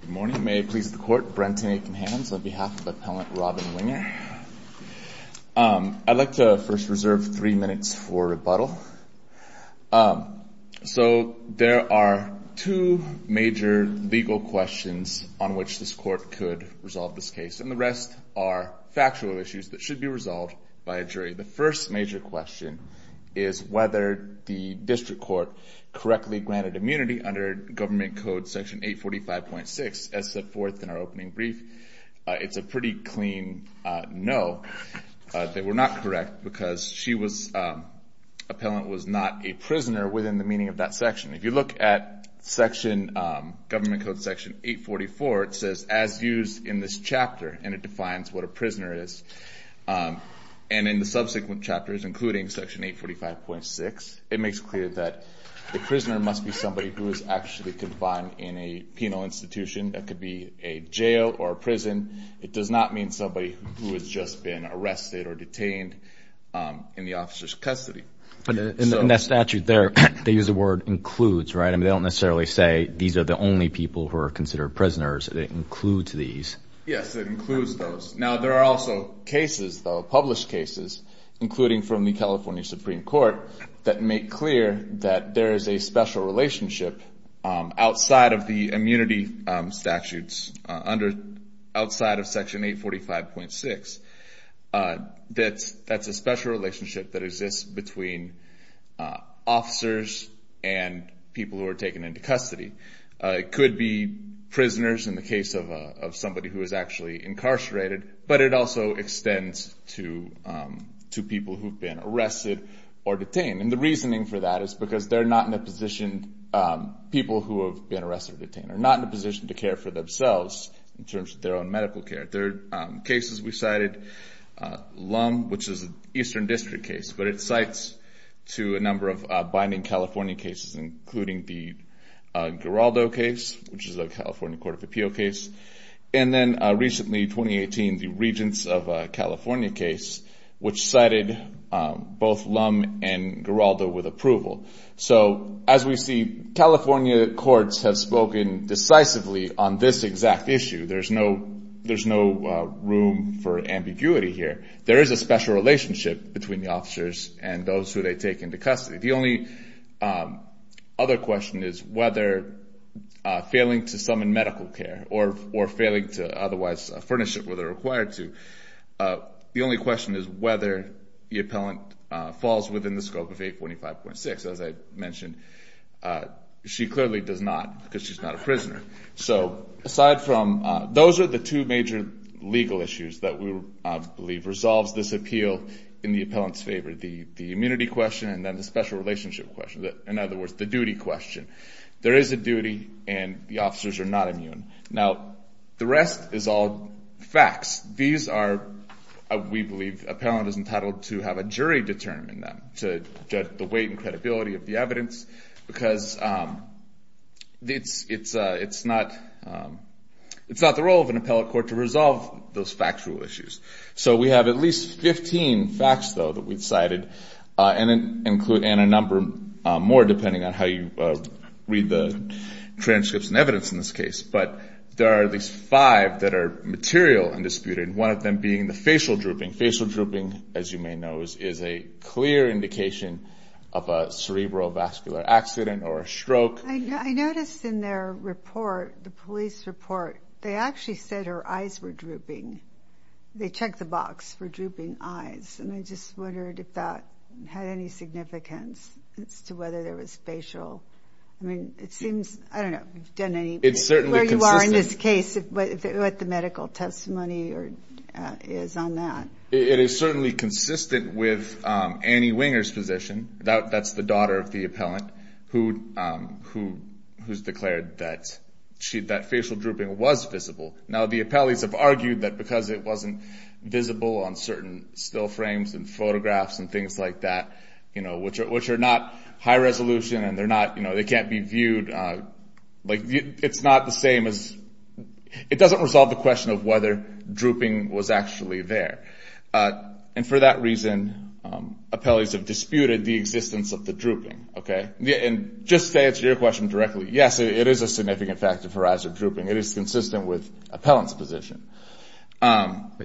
Good morning. May it please the court, Brenton Aiken-Hammonds on behalf of Appellant Robin Winger. I'd like to first reserve three minutes for rebuttal. So there are two major legal questions on which this court could resolve this case, and the rest are factual issues that should be resolved by a jury. The first major question is whether the district court correctly granted immunity under government code section 845. As set forth in our opening brief, it's a pretty clean no that we're not correct, because Appellant was not a prisoner within the meaning of that section. If you look at government code section 844, it says, as used in this chapter, and it defines what a prisoner is. And in the subsequent chapters, including section 845.6, it makes clear that the prisoner must be somebody who is actually confined in a penal institution. That could be a jail or a prison. It does not mean somebody who has just been arrested or detained in the officer's custody. In that statute there, they use the word includes, right? And they don't necessarily say, these are the only people who are considered prisoners. They include these. Yes, it includes those. Now, there are also cases, though, published cases, including from the California Supreme Court, that make clear that there is a special relationship outside of the immunity statutes, outside of section 845.6, that's a special relationship that exists between officers and people who are taken into custody. It could be prisoners, in the case of somebody who is actually incarcerated. But it also extends to people who've been arrested or detained. And the reasoning for that is because they're not in a position, people who have been arrested or detained, are not in a position to care for themselves in terms of their own medical care. Cases we cited, Lum, which is an Eastern District case, but it cites to a number of binding California cases, including the Geraldo case, which is a California Court of Appeal case. And then recently, 2018, the Regents of California case, which cited both Lum and Geraldo with approval. So as we see, California courts have spoken decisively on this exact issue. There's no room for ambiguity here. There is a special relationship between the officers and those who they take into custody. The only other question is whether failing to summon medical care or failing to otherwise furnish it where they're required to, the only question is whether the appellant falls within the scope of 825.6. As I mentioned, she clearly does not, because she's not a prisoner. So aside from those are the two major legal issues that we believe resolves this appeal in the appellant's favor, the immunity question and then the special relationship question. In other words, the duty question. There is a duty, and the officers are not immune. Now, the rest is all facts. These are, we believe, appellant is entitled to have a jury determine them, to judge the weight and credibility of the evidence, because it's not the role of an appellate court to resolve those factual issues. So we have at least 15 facts, though, that we've cited and a number more, depending on how you read the transcripts and evidence in this case. But there are at least five that are material and disputed, one of them being the facial drooping. Facial drooping, as you may know, is a clear indication of a cerebrovascular accident or a stroke. I noticed in their report, the police report, they actually said her eyes were drooping. They checked the box for drooping eyes. And I just wondered if that had any significance as to whether there was facial. I mean, it seems, I don't know, we've done any. Where you are in this case, what the medical testimony is on that. It is certainly consistent with Annie Winger's position. That's the daughter of the appellant who's declared that facial drooping was visible. Now, the appellees have argued that because it wasn't visible on certain still frames and photographs and things like that, which are not high resolution and they can't be viewed. Like, it's not the same as, it doesn't resolve the question of whether drooping was actually there. And for that reason, appellees have disputed the existence of the drooping, OK? And just to answer your question directly, yes, it is a significant factor for eyes are drooping. It is consistent with appellant's position.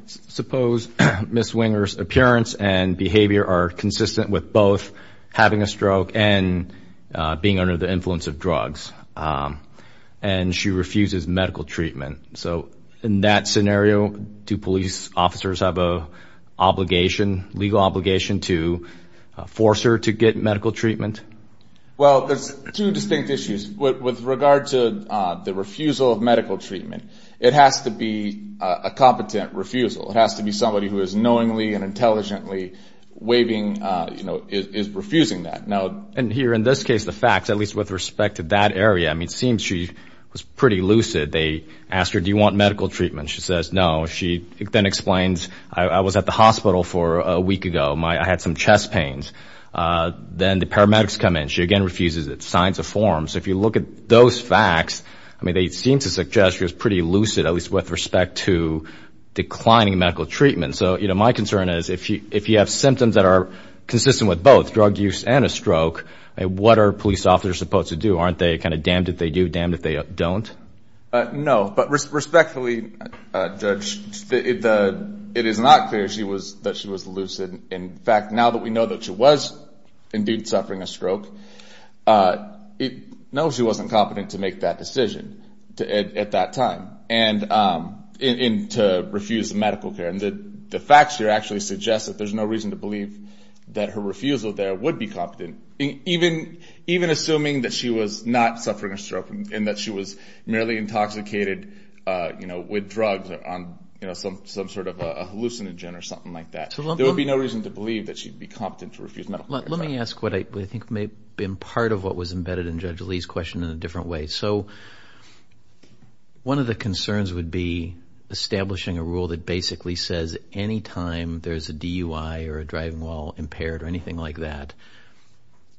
Suppose Ms. Winger's appearance and behavior are consistent with both having a stroke and being under the influence of drugs. And she refuses medical treatment. So in that scenario, do police officers have a legal obligation to force her to get medical treatment? Well, there's two distinct issues. With regard to the refusal of medical treatment, it has to be a competent refusal. It has to be somebody who is knowingly and intelligently waiving, is refusing that. And here, in this case, the facts, at least with respect to that area, I mean, it seems she was pretty lucid. They asked her, do you want medical treatment? She says, no. She then explains, I was at the hospital for a week ago. I had some chest pains. Then the paramedics come in. She again refuses it, signs of form. So if you look at those facts, I mean, they seem to suggest she was pretty lucid, at least with respect to declining medical treatment. So my concern is, if you have symptoms that are consistent with both, drug use and a stroke, what are police officers supposed to do? Aren't they kind of damned if they do, damned if they don't? No, but respectfully, Judge, it is not clear that she was lucid. In fact, now that we know that she was indeed suffering a stroke, no, she wasn't competent to make that decision at that time to refuse the medical care. And the facts here actually suggest that there's no reason to believe that her refusal there would be competent, even assuming that she was not suffering a stroke and that she was merely intoxicated with drugs on some sort of a hallucinogen or something like that. There would be no reason to believe that she'd be competent to refuse medical care. Let me ask what I think may have been part of what was embedded in Judge Lee's question in a different way. So one of the concerns would be establishing a rule that basically says any time there's a DUI or a driving while impaired or anything like that,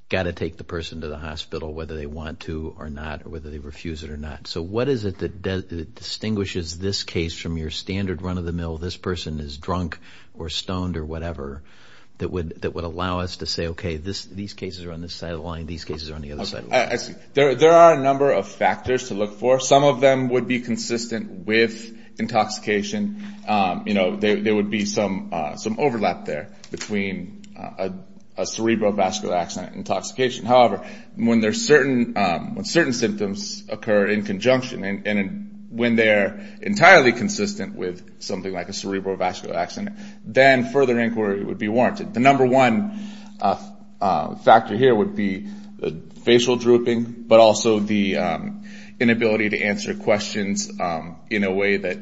got to take the person to the hospital whether they want to or not, or whether they refuse it or not. So what is it that distinguishes this case from your standard run of the mill, this person is drunk or stoned or whatever, that would allow us to say, OK, these cases are on this side of the line. These cases are on the other side of the line. There are a number of factors to look for. Some of them would be consistent with intoxication. There would be some overlap there between a cerebrovascular accident and intoxication. However, when certain symptoms occur in conjunction and when they're entirely consistent with something like a cerebrovascular accident, then further inquiry would be warranted. The number one factor here would be facial drooping, but also the inability to answer questions in a way that,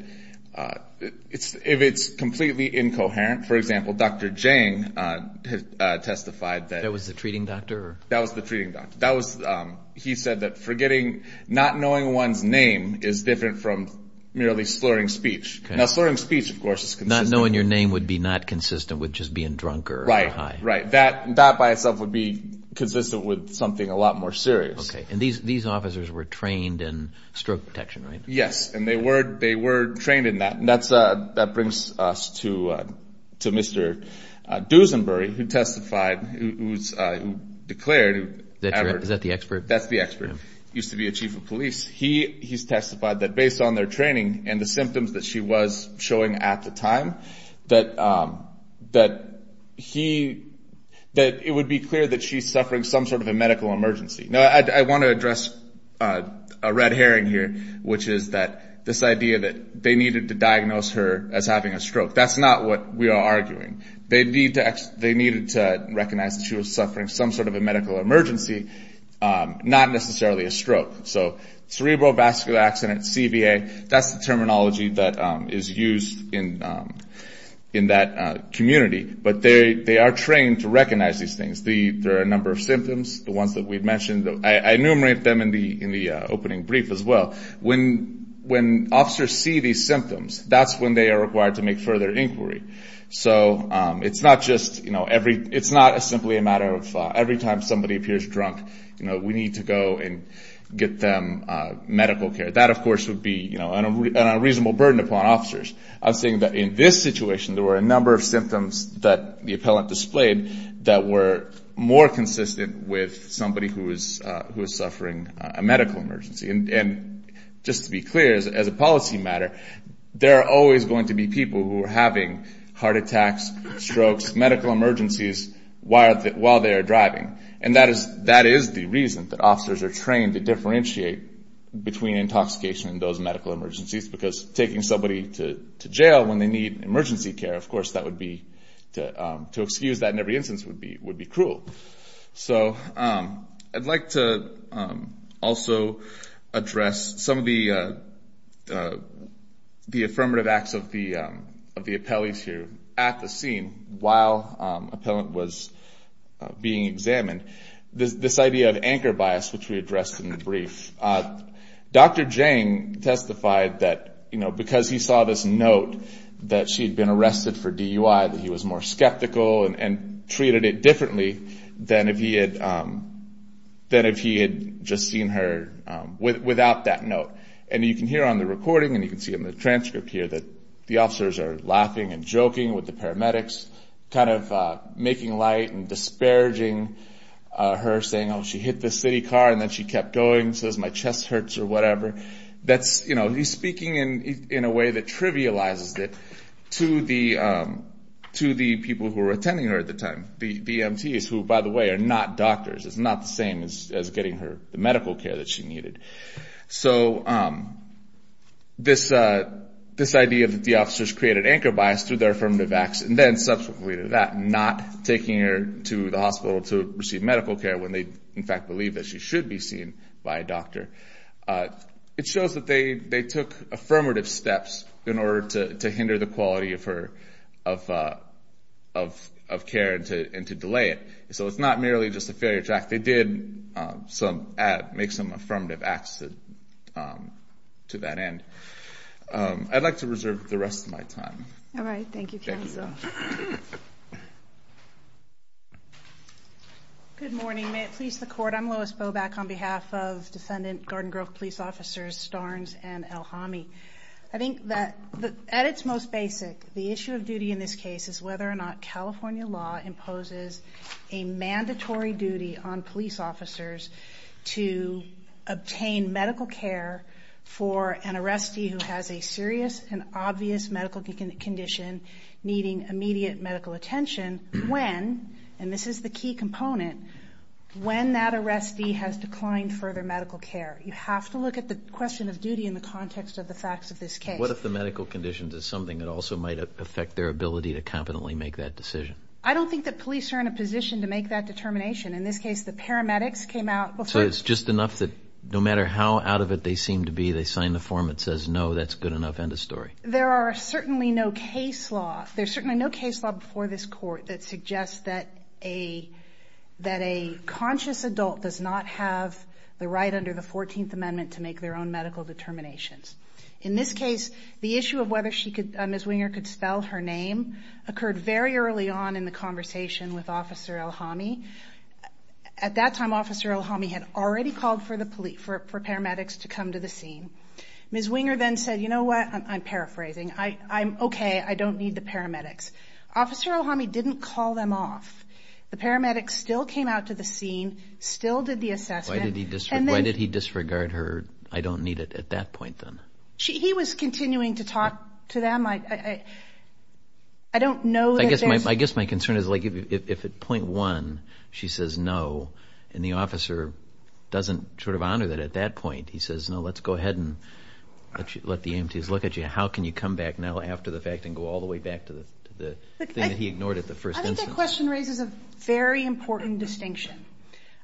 if it's completely incoherent, for example, Dr. Jiang testified that. That was the treating doctor? That was the treating doctor. He said that forgetting, not knowing one's name is different from merely slurring speech. Now, slurring speech, of course, is consistent. Not knowing your name would be not consistent with just being drunk or high. Right, that by itself would be consistent with something a lot more serious. Okay, and these officers were trained in stroke protection, right? Yes, and they were trained in that. And that brings us to Mr. Dusenbury, who testified, who declared. Is that the expert? That's the expert. Used to be a chief of police. He's testified that, based on their training and the symptoms that she was showing at the time, that it would be clear that she's suffering some sort of a medical emergency. Now, I want to address a red herring here, which is that this idea that they needed to diagnose her as having a stroke. That's not what we are arguing. They needed to recognize that she was suffering some sort of a medical emergency, not necessarily a stroke. So cerebral vascular accident, CVA, that's the terminology that is used in that community. But they are trained to recognize these things. There are a number of symptoms. The ones that we've mentioned, I enumerated them in the opening brief as well. When officers see these symptoms, that's when they are required to make further inquiry. So it's not just, it's not simply a matter of every time somebody appears drunk, we need to go and get them medical care. That, of course, would be an unreasonable burden upon officers. I'm saying that in this situation, there were a number of symptoms that the appellant displayed that were more consistent with somebody who is suffering a medical emergency. And just to be clear, as a policy matter, there are always going to be people who are having heart attacks, strokes, medical emergencies while they are driving. And that is the reason that officers are trained to differentiate between intoxication and those medical emergencies. Because taking somebody to jail when they need emergency care, of course, that would be, to excuse that in every instance would be cruel. So I'd like to also address some of the affirmative acts of the appellees here at the scene while appellant was being examined. This idea of anchor bias, which we addressed in the brief. Dr. Jang testified that because he saw this note that she had been arrested for DUI, that he was more skeptical and treated it differently than if he had just seen her without that note. And you can hear on the recording, and you can see in the transcript here, that the officers are laughing and joking with the paramedics, kind of making light and disparaging her, saying, oh, she hit the city car and then she kept going, says my chest hurts or whatever. That's, you know, he's speaking in a way that trivializes it to the people who were attending her at the time. The EMTs, who by the way, are not doctors. It's not the same as getting her the medical care that she needed. So this idea that the officers created anchor bias through their affirmative acts, and then subsequently to that, not taking her to the hospital to receive medical care when they in fact believe that she should be seen by a doctor, it shows that they took affirmative steps in order to hinder the quality of care and to delay it. So it's not merely just a failure to act. They did make some affirmative acts to that end. I'd like to reserve the rest of my time. All right, thank you counsel. Good morning, may it please the court. I'm Lois Bowback on behalf of Descendant Garden Grove Police Officers, Starnes and El Hamy. I think that at its most basic, the issue of duty in this case is whether or not California law imposes a mandatory duty on police officers to obtain medical care for an arrestee who has a serious and obvious medical condition needing immediate medical attention when, and this is the key component, when that arrestee has declined further medical care. You have to look at the question of duty in the context of the facts of this case. What if the medical conditions is something that also might affect their ability to competently make that decision? I don't think that police are in a position to make that determination. In this case, the paramedics came out before. So it's just enough that no matter how out of it they seem to be, they sign the form that says, no, that's good enough, end of story. There are certainly no case law, there's certainly no case law before this court that suggests that a conscious adult does not have the right under the 14th Amendment to make their own medical determinations. In this case, the issue of whether Ms. Winger could spell her name occurred very early on in the conversation with Officer Elhami. At that time, Officer Elhami had already called for paramedics to come to the scene. Ms. Winger then said, you know what, I'm paraphrasing, I'm okay, I don't need the paramedics. Officer Elhami didn't call them off. The paramedics still came out to the scene, still did the assessment. Why did he disregard her, I don't need it, at that point, then? He was continuing to talk to them. I don't know that there's- I guess my concern is if at point one, she says no, and the officer doesn't sort of honor that at that point, he says, no, let's go ahead and let the EMTs look at you, how can you come back now after the fact and go all the way back to the thing that he ignored at the first instance? I think that question raises a very important distinction.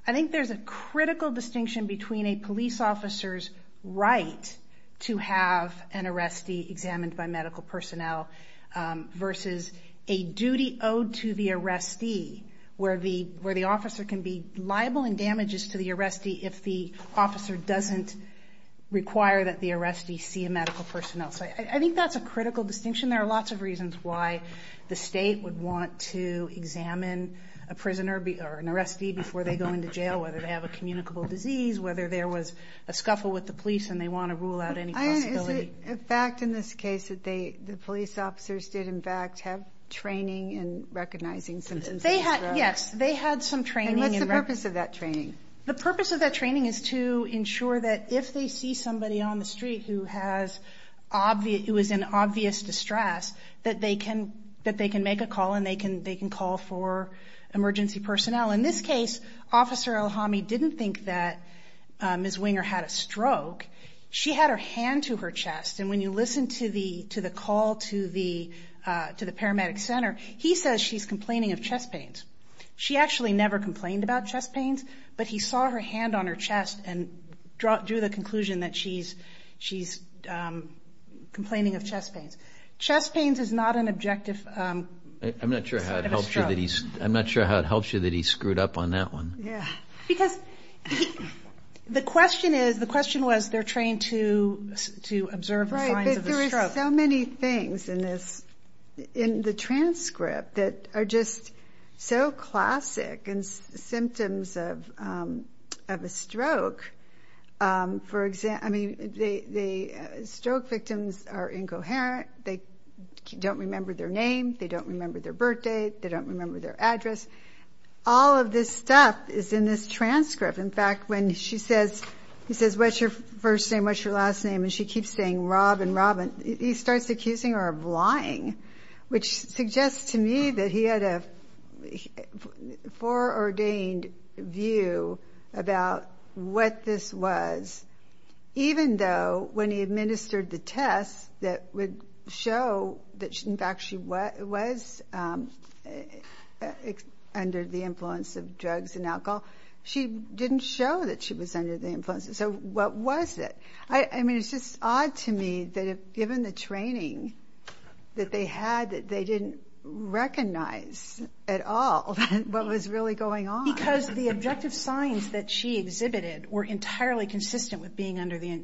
I think there's a critical distinction between a police officer's right to have an arrestee examined by medical personnel versus a duty owed to the arrestee where the officer can be liable in damages to the arrestee if the officer doesn't require that the arrestee see a medical personnel. So I think that's a critical distinction. There are lots of reasons why the state would want to examine a prisoner or an arrestee before they go into jail, whether they have a communicable disease, whether there was a scuffle with the police and they want to rule out any possibility. Is it a fact in this case that the police officers did in fact have training in recognizing symptoms of these drugs? Yes, they had some training. And what's the purpose of that training? The purpose of that training is to ensure that if they see somebody on the street who was in obvious distress, that they can make a call and they can call for emergency personnel. In this case, Officer Elhami didn't think that Ms. Winger had a stroke. She had her hand to her chest. And when you listen to the call to the paramedic center, he says she's complaining of chest pains. She actually never complained about chest pains, but he saw her hand on her chest and drew the conclusion that she's complaining of chest pains. Chest pains is not an objective sign of a stroke. I'm not sure how it helps you that he screwed up on that one. Yeah, because the question was they're trained to observe the signs of a stroke. Right, but there is so many things in the transcript that are just so classic and symptoms of a stroke. For example, I mean, the stroke victims are incoherent. They don't remember their name. They don't remember their birthday. They don't remember their address. All of this stuff is in this transcript. In fact, when she says, he says, what's your first name? What's your last name? And she keeps saying Rob and Robin. He starts accusing her of lying, which suggests to me that he had a foreordained view about what this was, even though when he administered the tests that would show that in fact she was under the influence of drugs and alcohol, she didn't show that she was under the influence. So what was it? I mean, it's just odd to me that if given the training that they had, that they didn't recognize at all what was really going on. Because the objective signs that she exhibited were entirely consistent with being under the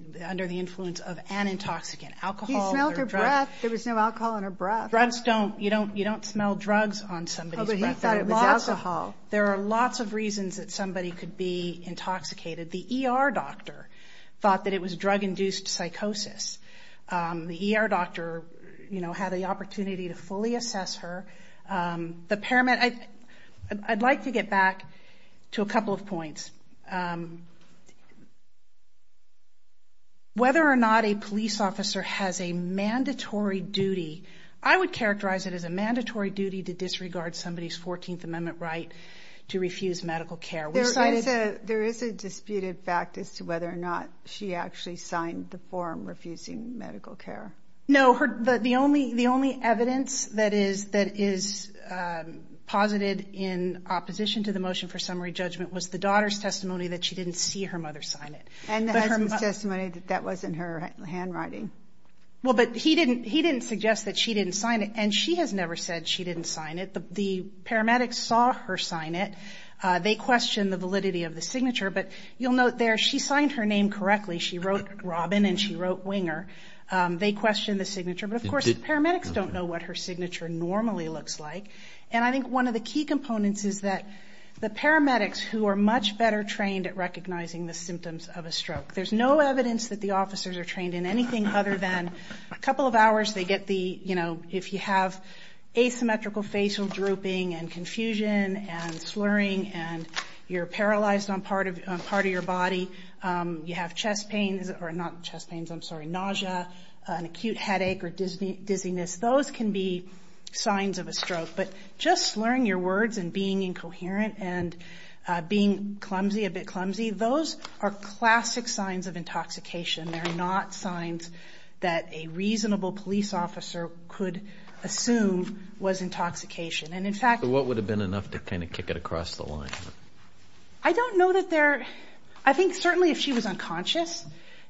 influence of an intoxicant, alcohol or drugs. He smelled her breath. There was no alcohol in her breath. Drugs don't, you don't smell drugs on somebody's breath. Oh, but he thought it was alcohol. There are lots of reasons that somebody could be intoxicated. The ER doctor thought that it was drug-induced psychosis. The ER doctor, you know, had the opportunity to fully assess her. I'd like to get back to a couple of points. Whether or not a police officer has a mandatory duty, I would characterize it as a mandatory duty to disregard somebody's 14th Amendment right to refuse medical care. There is a disputed fact as to whether or not she actually signed the form refusing medical care. No, the only evidence that is posited in opposition to the motion for summary judgment was the daughter's testimony that she didn't see her mother sign it. And the husband's testimony that that wasn't her handwriting. Well, but he didn't suggest that she didn't sign it. And she has never said she didn't sign it. The paramedics saw her sign it. They questioned the validity of the signature. But you'll note there, she signed her name correctly. She wrote Robin and she wrote Winger. They questioned the signature. But of course, the paramedics don't know what her signature normally looks like. And I think one of the key components is that the paramedics who are much better trained at recognizing the symptoms of a stroke. There's no evidence that the officers are trained in anything other than a couple of hours. They get the, you know, if you have asymmetrical facial drooping and confusion and slurring and you're paralyzed on part of your body, you have chest pains or not chest pains, I'm sorry, nausea, an acute headache or dizziness. Those can be signs of a stroke. But just slurring your words and being incoherent and being clumsy, a bit clumsy, those are classic signs of intoxication. They're not signs that a reasonable police officer could assume was intoxication. And in fact- So what would have been enough to kind of kick it across the line? I don't know that there, I think certainly if she was unconscious,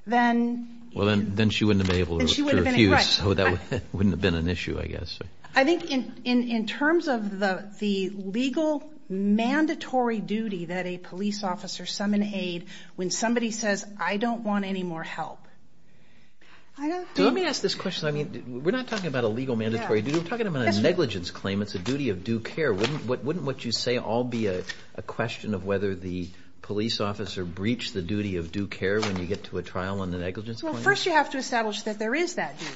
then- Well, then she wouldn't have been able to refuse. So that wouldn't have been an issue, I guess. I think in terms of the legal mandatory duty that a police officer summon aid, when somebody says, I don't want any more help. So let me ask this question. I mean, we're not talking about a legal mandatory duty. We're talking about a negligence claim. It's a duty of due care. Wouldn't what you say all be a question of whether the police officer breached the duty of due care when you get to a trial on the negligence claim? Well, first you have to establish that there is that duty.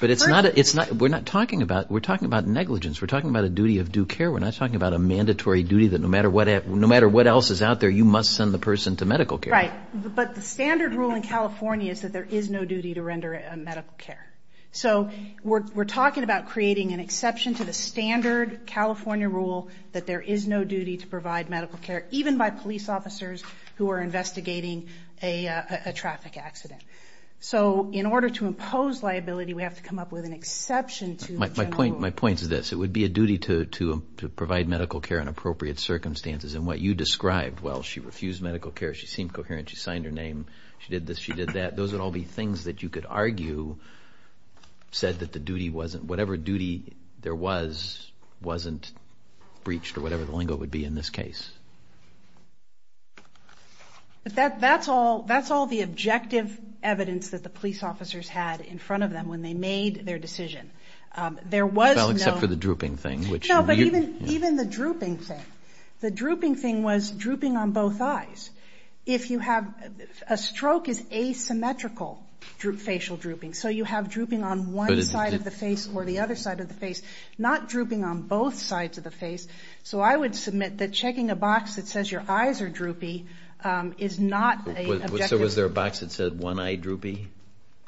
But it's not, we're not talking about, we're talking about negligence. We're talking about a duty of due care. We're not talking about a mandatory duty that no matter what else is out there, you must send the person to medical care. Right, but the standard rule in California is that there is no duty to render a medical care. So we're talking about creating an exception to the standard California rule that there is no duty to provide medical care, even by police officers who are investigating a traffic accident. So in order to impose liability, we have to come up with an exception to the general rule. My point is this. It would be a duty to provide medical care in appropriate circumstances. And what you described, well, she refused medical care. She seemed coherent. She signed her name. She did this, she did that. Those would all be things that you could argue said that the duty wasn't, whatever duty there was, wasn't breached or whatever the lingo would be in this case. But that's all the objective evidence that the police officers had in front of them when they made their decision. There was no- Well, except for the drooping thing, which- No, but even the drooping thing. The drooping thing was drooping on both eyes. If you have, a stroke is asymmetrical facial drooping. So you have drooping on one side of the face or the other side of the face, not drooping on both sides of the face. So I would submit that checking a box that says your eyes are droopy is not a objective- So was there a box that said one eye droopy?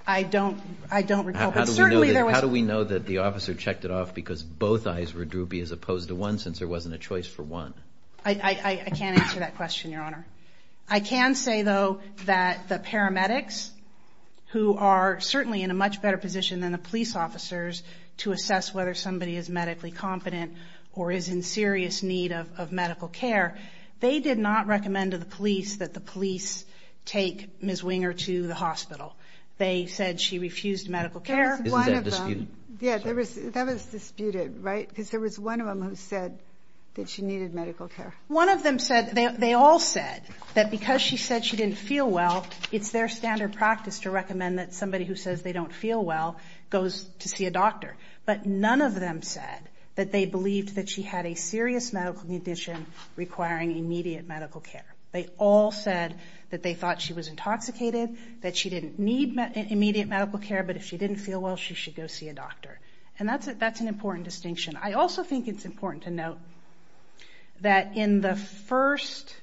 I don't recall, but certainly there was- How do we know that the officer checked it off because both eyes were droopy as opposed to one since there wasn't a choice for one? I can't answer that question, Your Honor. I can say though that the paramedics who are certainly in a much better position than the police officers to assess whether somebody is medically competent or is in serious need of medical care, they did not recommend to the police that the police take Ms. Winger to the hospital. They said she refused medical care. Isn't that disputed? Yeah, that was disputed, right? Because there was one of them who said that she needed medical care. One of them said, they all said that because she said she didn't feel well, it's their standard practice to recommend that somebody who says they don't feel well goes to see a doctor. But none of them said that they believed that she had a serious medical condition requiring immediate medical care. They all said that they thought she was intoxicated, that she didn't need immediate medical care, but if she didn't feel well, she should go see a doctor. And that's an important distinction. I also think it's important to note that in the first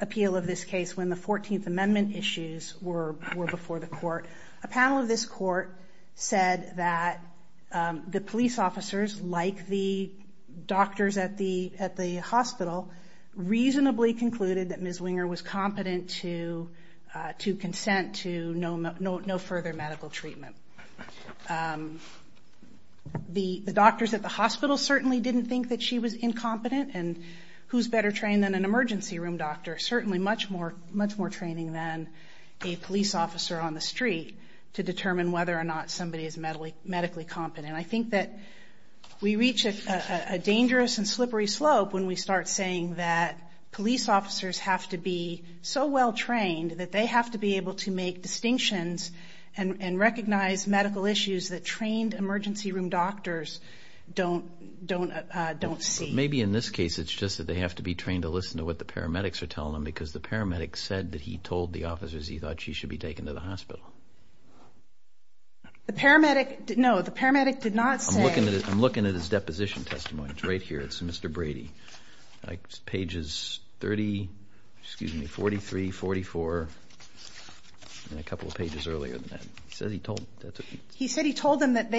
appeal of this case when the 14th Amendment issues were before the court, a panel of this court said that the police officers, like the doctors at the hospital, reasonably concluded that Ms. Winger was competent to consent to no further medical treatment. The doctors at the hospital certainly didn't think that she was incompetent, and who's better trained than an emergency room doctor? Certainly much more training than a police officer on the street to determine whether or not somebody is medically competent. I think that we reach a dangerous and slippery slope when we start saying that police officers have to be so well trained that they have to be able to make distinctions and recognize medical issues that trained emergency room doctors don't see. Maybe in this case it's just that they have to be trained to listen to what the paramedics are telling them because the paramedic said that he told the officers he thought she should be taken to the hospital. The paramedic, no, the paramedic did not say. I'm looking at his deposition testimonies right here. It's Mr. Brady. Pages 30, excuse me, 43, 44, and a couple of pages earlier than that. He said he told, that's what he said. He said he told them that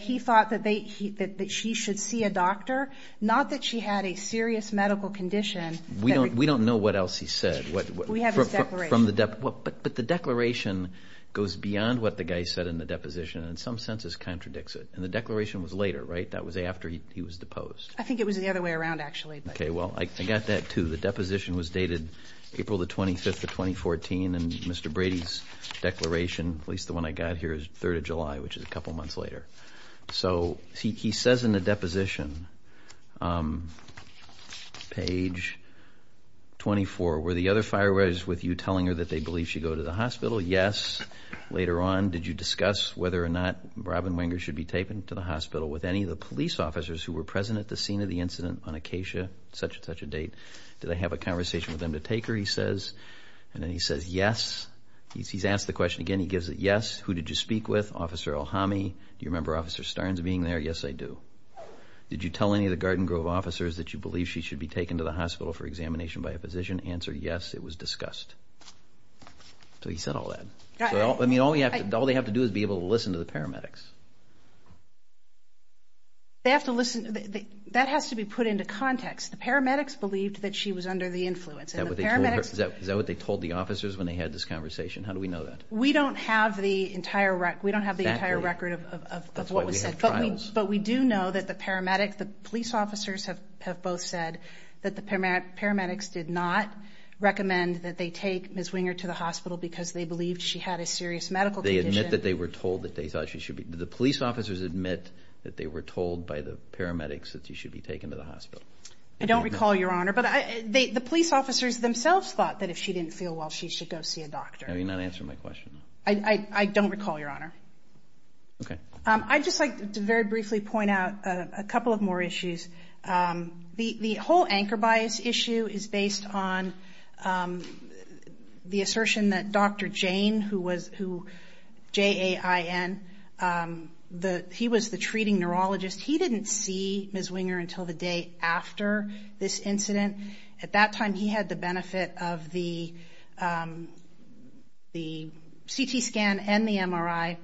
he thought that she should see a doctor, not that she had a serious medical condition. We don't know what else he said. We have his declaration. But the declaration goes beyond what the guy said in the deposition and in some senses contradicts it. And the declaration was later, right? That was after he was deposed. I think it was the other way around, actually. Okay, well, I got that too. The deposition was dated April the 25th of 2014 and Mr. Brady's declaration, at least the one I got here, is 3rd of July, which is a couple months later. So he says in the deposition, page 24, were the other fire fighters with you telling her that they believe she go to the hospital? Yes. Later on, did you discuss whether or not Robin Wenger should be taken to the hospital with any of the police officers who were present at the scene of the incident on Acacia, such and such a date? Did they have a conversation with them to take her, he says, and then he says yes. He's asked the question again. He gives it yes. Who did you speak with? Officer Ohami. Do you remember Officer Starnes being there? Yes, I do. Did you tell any of the Garden Grove officers that you believe she should be taken to the hospital for examination by a physician? Answer, yes, it was discussed. So he said all that. I mean, all they have to do is be able to listen to the paramedics. They have to listen, that has to be put into context. The paramedics believed that she was under the influence. Is that what they told the officers when they had this conversation? How do we know that? We don't have the entire record of what was said. But we do know that the paramedics, the police officers have both said that the paramedics did not recommend that they take Ms. Winger to the hospital because they believed she had a serious medical condition. They admit that they were told that they thought she should be, the police officers admit that they were told by the paramedics that she should be taken to the hospital. I don't recall, Your Honor, but the police officers themselves thought that if she didn't feel well, she should go see a doctor. Have you not answered my question? I don't recall, Your Honor. Okay. I'd just like to very briefly point out a couple of more issues. The whole anchor bias issue is based on the assertion that Dr. Jane, who J-A-I-N, he was the treating neurologist. He didn't see Ms. Winger until the day after this incident. At that time, he had the benefit of the the CT scan and the MRI.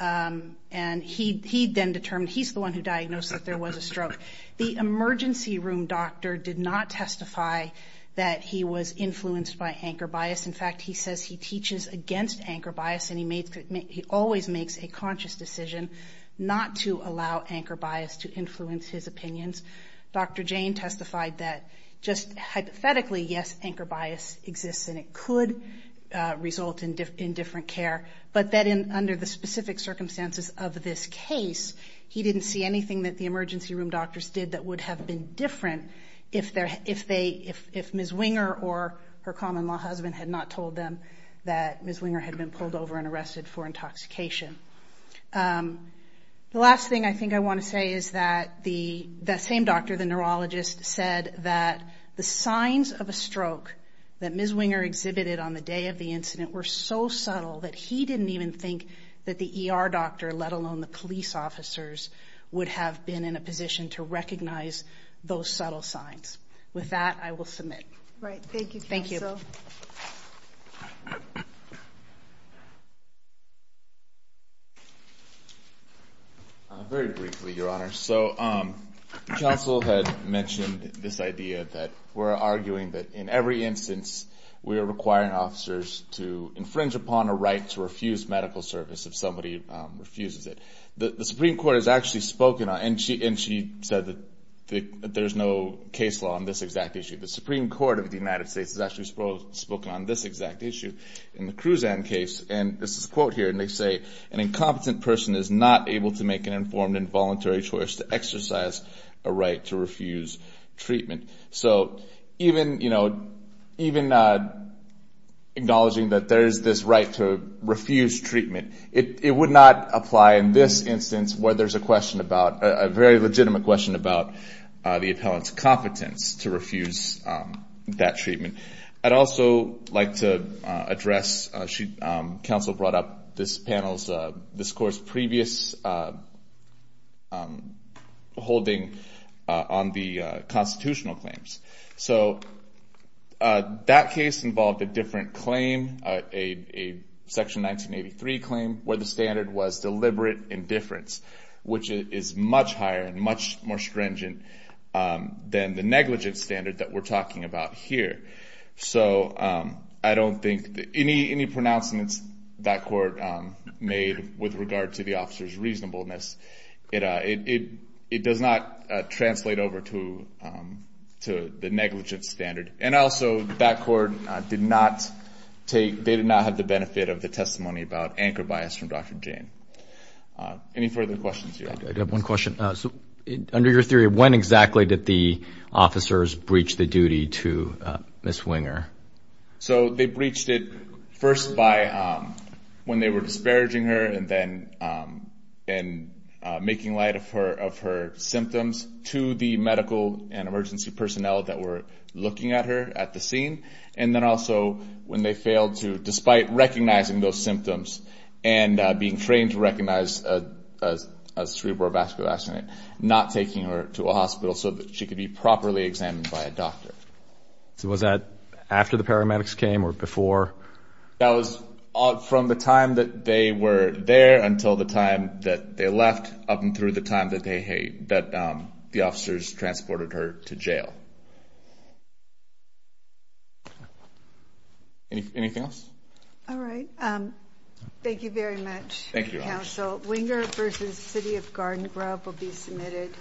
And he then determined, he's the one who diagnosed that there was a stroke. The emergency room doctor did not testify that he was influenced by anchor bias. In fact, he says he teaches against anchor bias and he always makes a conscious decision not to allow anchor bias to influence his opinions. Dr. Jane testified that just hypothetically, yes, anchor bias exists and it could result in different care, but that under the specific circumstances of this case, he didn't see anything that the emergency room doctors did that would have been different if Ms. Winger or her common-law husband had not told them that Ms. Winger had been pulled over and arrested for intoxication. The last thing I think I want to say is that that same doctor, the neurologist, said that the signs of a stroke that Ms. Winger exhibited on the day of the incident were so subtle that he didn't even think that the ER doctor, let alone the police officers, would have been in a position to recognize those subtle signs. With that, I will submit. Right, thank you, Counsel. Thank you. Very briefly, Your Honor. So, Counsel had mentioned this idea that we're arguing that in every instance, we are requiring officers to infringe upon a right to refuse medical service if somebody refuses it. The Supreme Court has actually spoken on, and she said that there's no case law on this exact issue. The Supreme Court of the United States has actually spoken on this exact issue in the Cruzan case, and this is a quote here, and they say, an incompetent person is not able to make an informed and voluntary choice to exercise a right to refuse treatment. So, even acknowledging that there's this right to refuse treatment, it would not apply in this instance where there's a question about, a very legitimate question about the appellant's competence to refuse that treatment. I'd also like to address, Counsel brought up this panel's discourse in the previous holding on the constitutional claims. So, that case involved a different claim, a Section 1983 claim, where the standard was deliberate indifference, which is much higher and much more stringent than the negligence standard that we're talking about here. So, I don't think, any pronouncements that court made with regard to the officer's reasonableness, it does not translate over to the negligence standard. And also, that court did not take, they did not have the benefit of the testimony about anchor bias from Dr. Jane. Any further questions here? I do have one question. So, under your theory, when exactly did the officers breach the duty to Ms. Winger? So, they breached it first by, when they were disparaging her and then making light of her symptoms to the medical and emergency personnel that were looking at her at the scene. And then also, when they failed to, despite recognizing those symptoms and being trained to recognize a cerebral vascular accident, not taking her to a hospital so that she could be properly examined by a doctor. So, was that after the paramedics came or before? That was from the time that they were there until the time that they left, up and through the time that they, that the officers transported her to jail. Anything else? All right. Thank you very much, counsel. Winger versus City of Garden Grove will be submitted.